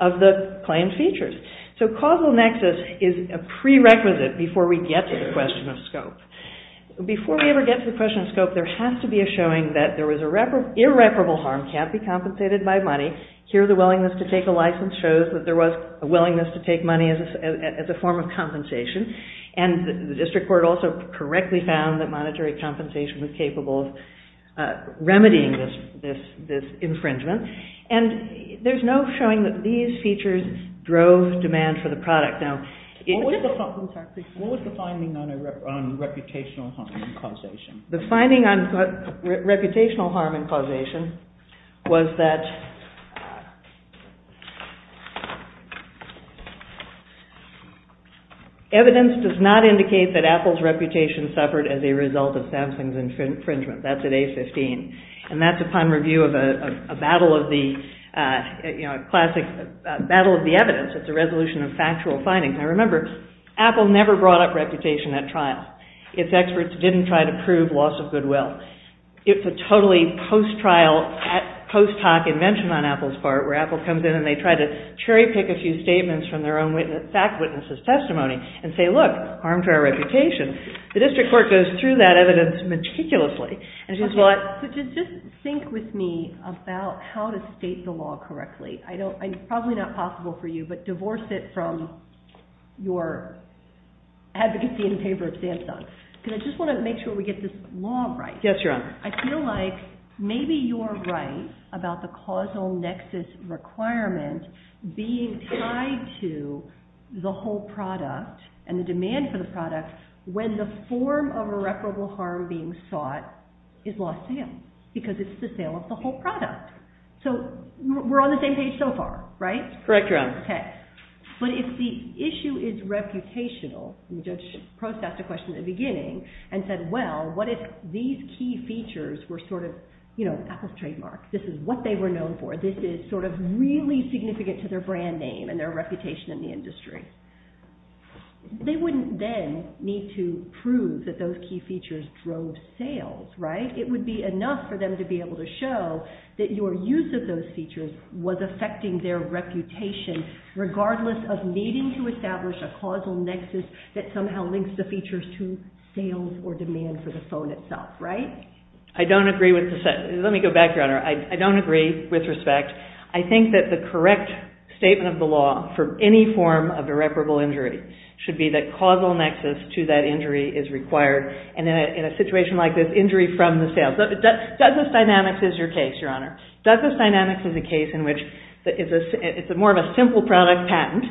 of the claimed features. So causal nexus is a prerequisite before we get to the question of scope. Before we ever get to the question of scope, there has to be a showing that there was irreparable harm, can't be compensated by money. Here the willingness to take a license shows that there was a willingness to take money as a form of compensation. And the district court also correctly found that monetary compensation was capable of remedying this infringement. And there's no showing that these features drove demand for the product. Now... What was the finding on reputational harm and causation? The finding on reputational harm and causation was that... evidence does not indicate that Apple's reputation suffered as a result of Samsung's infringement. That's at A15. And that's upon review of a battle of the... you know, a classic battle of the evidence. It's a resolution of factual findings. Now remember, Apple never brought up reputation at trials. Its experts didn't try to prove loss of goodwill. It's a totally post-trial, post-hoc invention on Apple's part where Apple comes in and they try to cherry-pick a few statements from their own fact witnesses' testimony and say, look, harm to our reputation. The district court goes through that evidence meticulously. Just think with me about how to state the law correctly. It's probably not possible for you, but divorce it from your advocacy in favor of Samsung. Because I just want to make sure we get this law right. Yes, Your Honor. I feel like maybe you're right about the causal nexus requirement being tied to the whole product and the demand for the product when the form of irreparable harm being sought is lost to him. Because it's the sale of the whole product. So we're on the same page so far, right? Correct, Your Honor. Okay. But if the issue is reputational, and the judge posed that question at the beginning and said, well, what if these key features were sort of Apple's trademark? This is what they were known for. This is sort of really significant to their brand name and their reputation in the industry. They wouldn't then need to prove that those key features drove sales, right? It would be enough for them to be able to show that your use of those features was affecting their reputation regardless of needing to establish a causal nexus that somehow links the features to sales or demand for the phone itself, right? I don't agree with this. Let me go back, Your Honor. I don't agree with respect. I think that the correct statement of the law for any form of irreparable injury should be that causal nexus to that injury is required. And in a situation like this, injury from the sales. Douglas Dynamics is your case, Your Honor. Douglas Dynamics is a case in which it's more of a simple product patent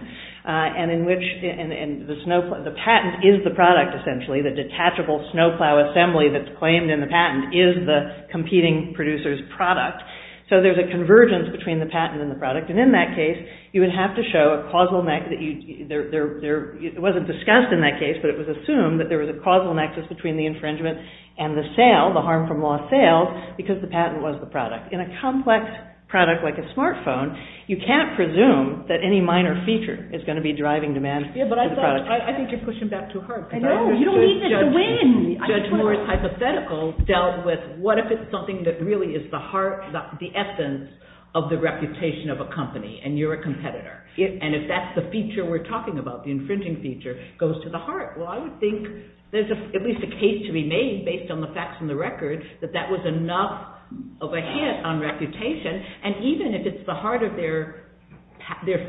and in which the patent is the product, essentially. The detachable snowplow assembly that's claimed in the patent is the competing producer's product. So there's a convergence between the patent and the product and in that case, you would have to show a causal nexus. It wasn't discussed in that case, but it was assumed that there was a causal nexus between the infringement and the sale, the harm from lost sales, because the patent was the product. In a complex product like a smartphone, you can't presume that any minor feature is going to be driving demand for the product. I think you're pushing back too hard. I know. You don't need this to win. Judge Moore's hypothetical dealt with what if it's something that really is the heart, the essence of the reputation of a company and you're a competitor. And if that's the feature we're talking about, the infringing feature, goes to the heart. Well, I would think there's at least a case to be made based on the facts and the records that that was enough of a hit on reputation and even if it's the heart of their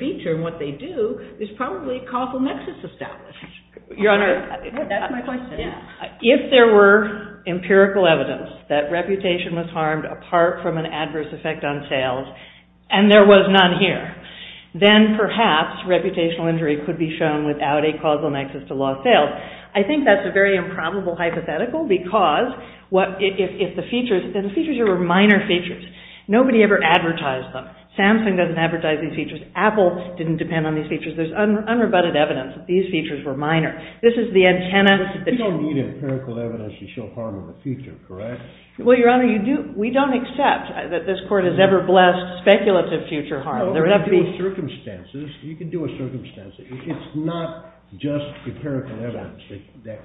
feature and what they do, there's probably a causal nexus established. Your Honor, that's my question. If there were empirical evidence that reputation was harmed apart from an adverse effect on sales and there was none here, what would you do? Then perhaps reputational injury could be shown without a causal nexus to lost sales. I think that's a very improbable hypothetical because if the features, and the features are minor features, nobody ever advertised them. Samsung doesn't advertise these features. Apple didn't depend on these features. There's unrebutted evidence that these features were minor. This is the antenna. You don't need empirical evidence to show harm of a feature, correct? Well, Your Honor, we don't accept that this court has ever blessed speculative feature harm. There would have to be circumstances. You can do a circumstance. It's not just empirical evidence that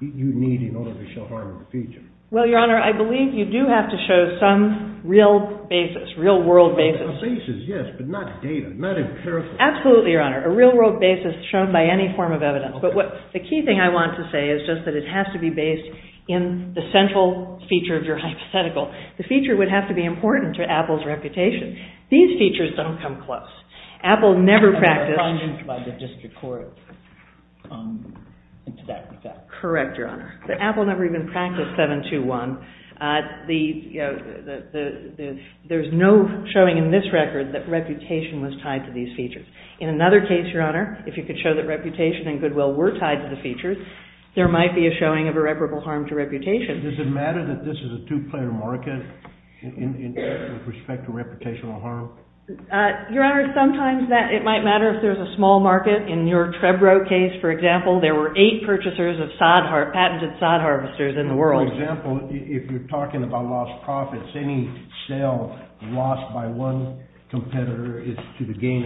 you need in order to show harm of a feature. Well, Your Honor, I believe you do have to show some real basis, real world basis. A basis, yes, but not data, not empirical. Absolutely, Your Honor. A real world basis shown by any form of evidence. But the key thing I want to say is just that it has to be based in the central feature of your hypothetical. The feature would have to be important to Apple's reputation. These features don't come close. Apple never practiced by the district court into that. Correct, Your Honor. Apple never even practiced 721. There's no showing in this record that reputation was tied to these features. In another case, Your Honor, if you could show that reputation and goodwill were tied to the features, there might be a showing of irreparable harm to reputation. Does it matter that this is a two-player market with respect to reputation or harm? Your Honor, sometimes it might matter if there's a small market. In your Trebro case, for example, there were eight purchasers of patented sod harvesters in the world. For example, if you're talking about lost profits, any sale lost by one competitor is to the gain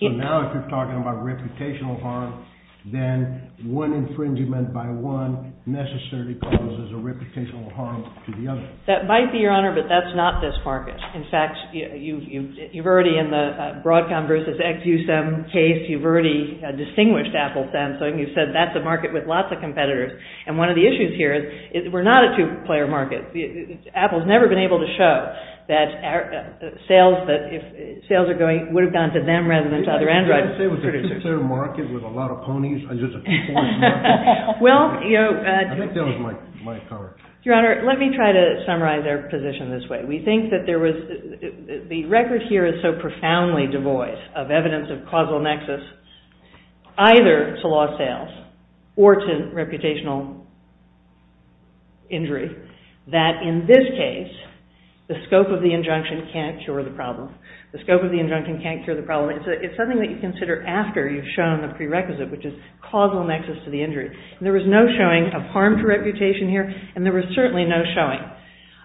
So now if you're talking about reputational harm, then one infringement by one necessarily causes a reputational harm to the other. That might be, Your Honor, but that's not this market. In fact, you've already in the Broadcom versus Exusem case, you've already distinguished Apple Samsung. You said that's a market with lots of competitors. And one of the issues here is we're not a two-player market. Apple's never been able to show that sales would have gone to them rather than to other Android producers. I was going to say it was a two-player market with a lot of ponies and just a few points. I think that was my comment. Your Honor, let me try to summarize our position this way. We think that the record here is so profoundly devoid of evidence of causal nexus either to lost sales or to reputational injury that in this case the scope of the injunction can't cure the problem. The scope of the injunction can't cure the problem. It's something that you consider after you've shown the prerequisite, which is causal nexus to the injury. There was no showing of harm to reputation here and there was certainly no showing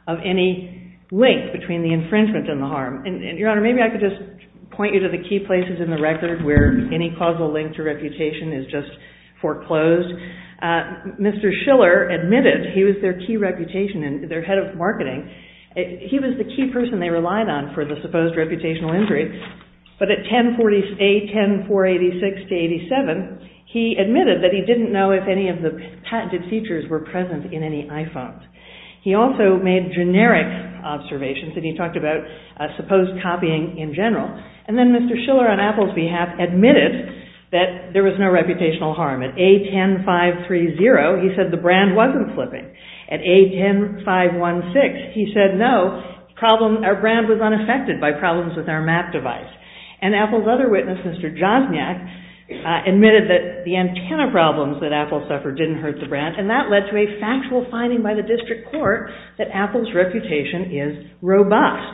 of any link between the infringement and the harm. Your Honor, maybe I could just point you to the key places in the record where any causal link to reputation is just foreclosed. Mr. Schiller admitted he was their key reputation and their head of technology admitted that he didn't know if any of the patented features were present in any iPhones. He also made generic observations and he talked about supposed copying in general. And then Mr. Schiller on Apple's behalf admitted that there was no reputational harm. At A10-530 he said the brand wasn't flipping. At A10-516 he said no, our brand was unaffected by the problems that Apple suffered didn't hurt the brand. And that led to a factual finding by the district court that Apple's reputation is robust.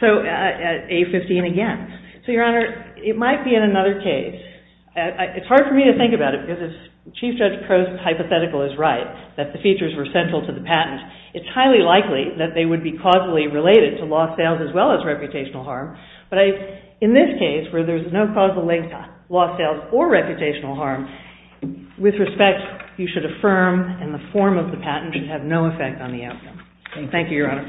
So, A15 again. So, Your Honor, it might be in another case. It's hard for me to think about it because if Chief Judge Prose's hypothetical is right, that the features were central to the patent, it's highly likely that they would be causally related to lost sales as well as reputational harm. But in this case, where there's no causal loss sales or reputational harm, with respect, you should affirm and the form of the patent should have no effect on the outcome. Thank you, Your Honor.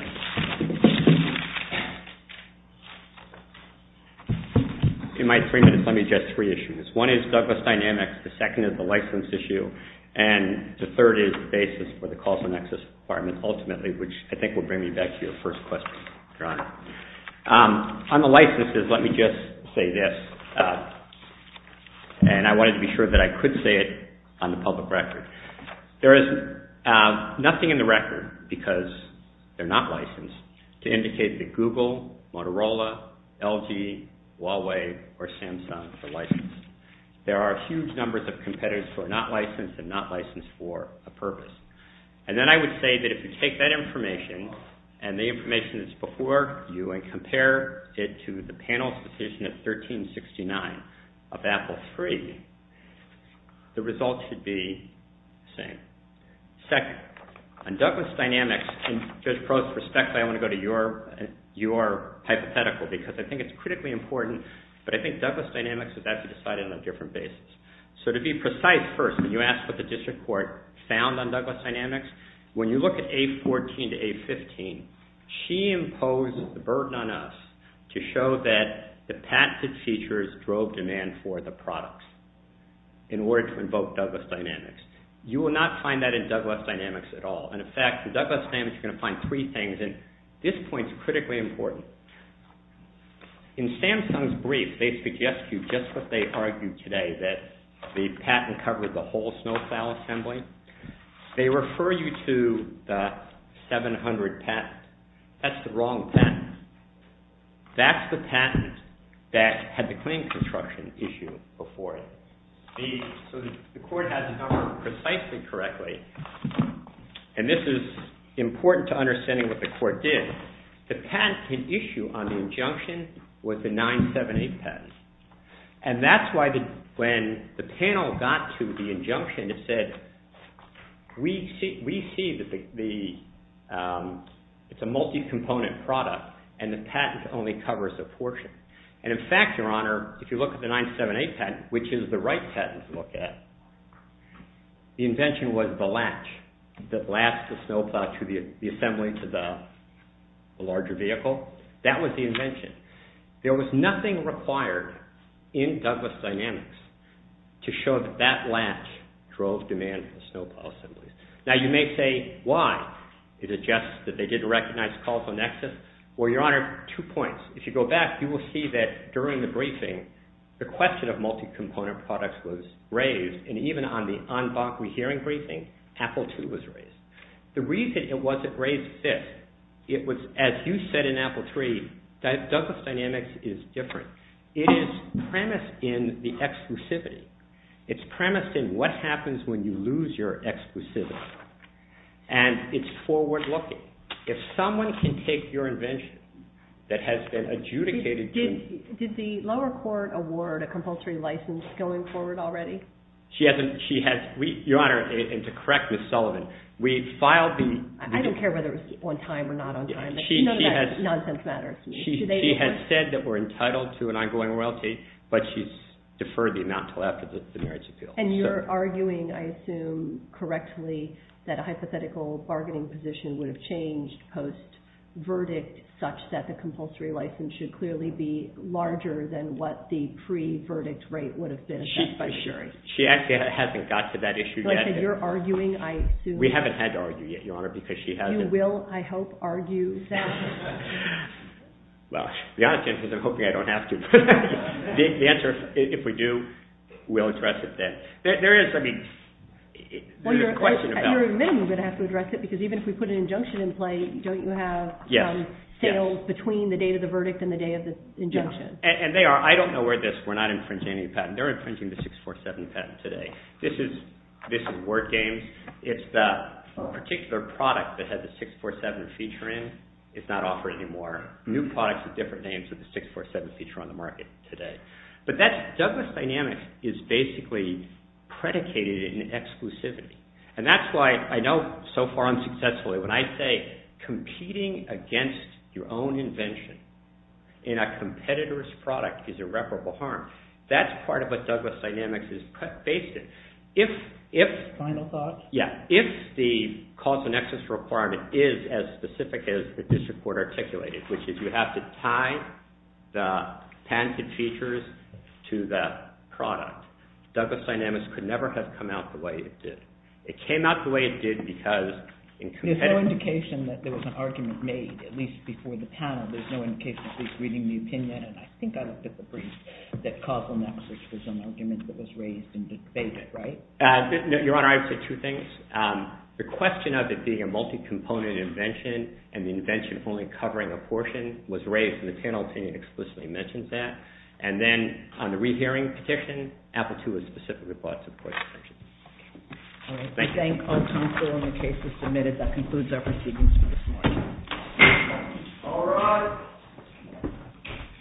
In my three minutes, let me address three issues. One is Douglas Dynamics, the second is the license issue, and the third is the basis for the causal nexus ultimately, which I think will bring me back to your first question, Your Honor. On the licenses, let me just say this, and I wanted to be sure that I could say it on the public record. There is nothing in the record, they're not licensed, to indicate that Google, Motorola, LG, Huawei, or Samsung are licensed. There are huge numbers of competitors who are not licensed and not licensed for a purpose. And then I would say that if you take that information, and the information that's before you, and compare it to the panel's decision at 1369 of Apple III, the results should be the same. Second, on Douglas Dynamics, in Judge Crowe's respect, I want to go to your hypothetical, because I think it's critically important, but I want to be precise first. When you ask what the District Court found on Douglas Dynamics, when you look at A14 to A15, she imposed the burden on us to show that the patented features drove demand for the products in order to invoke Douglas Dynamics. You will not find that in Douglas Dynamics at all. In fact, in Douglas Dynamics you can find three things, and this point is critically important. In Samsung's brief, they suggest you just what they argued today, that the patent covered the whole snow plow assembly. They refer you to the 700 patent. That's the wrong patent. That's the patent that had the claim construction issue before it. So the court has it covered precisely correctly, and this is important to understanding what the court did. The patent can issue on the injunction with the 978 patent, and that's why when the panel got to the injunction, it said, we see that the it's a multi-component product, and the patent only covers a portion. And in fact, your honor, if you look at the 978 patent, which is the right patent to look at, the invention was the latch that latched the snow plow to the assembly to the larger vehicle. That was the invention. There was nothing required in Douglas Dynamics to show that that latch drove demand for snow plow assemblies. Now, you may say, why? Is it just that they didn't recognize causal nexus? Well, your honor, two points. If you go back, you will see that during the briefing, the question of multi-component products was raised, and even on the hearing briefing, Apple II was raised. The reason it wasn't raised this, it was, as you said in Apple III, Douglas Dynamics is different. It is premised in the exclusivity. It's premised in what happens when you lose your exclusivity. And it's forward-looking. If someone can take your invention that has been adjudicated to... Your honor, and to correct Ms. Sullivan, we filed the... I don't care whether it was on time or not on time. Nonsense matters to me. She has said that we're entitled to an ongoing royalty, but she's deferred the amount until after the marriage appeal. And you're arguing, I assume, correctly, that a hypothetical bargaining position would have changed post-verdict such that the compulsory license should clearly be larger than what the pre-verdict rate would have been. She actually hasn't got to that issue yet. You're arguing, I assume... We haven't had to argue yet, Your Honor, because she hasn't... You will, I hope, argue that... Well, the honest answer is I'm hoping I don't have to. The answer, if we do, we'll address it then. There is, I mean... You're admittedly going to have to address it, because even if we put an injunction in play, don't you have sales between the date of the verdict and the day of the injunction? And they are. I don't know where this... We're not infringing any patent. They're infringing the 647 patent today. This is Word Games. It's the particular product that has the 647 feature in. It's not offered anymore. New products with different names with the 647 feature on the market today. But that's... Douglas Dynamics is basically predicated in exclusivity. And that's why I know so far unsuccessfully when I say competing against your own invention in a competitor's product is irreparable harm. That's part of what Douglas Dynamics is based in. If... Any other final thoughts? Yeah. If the causal nexus requirement is as specific as the district court articulated, which is you have to tie the patent features to the product, Douglas Dynamics could never have come out the way it did. It came out the way it did because... There's no indication that there was an argument made, at least before the panel. There's no indication of the court's reading the opinion, and I think I looked at the brief, that causal nexus was an argument that was raised and debated, right? Your Honor, I would say two things. The question of it being a multi-component invention and the invention only covering a portion was raised in the panel, and it explicitly mentioned that. And then on the rehearing petition, Apple II was specifically brought to court. Thank you. I thank all counsel on the cases submitted. That concludes our proceedings for this morning. All rise.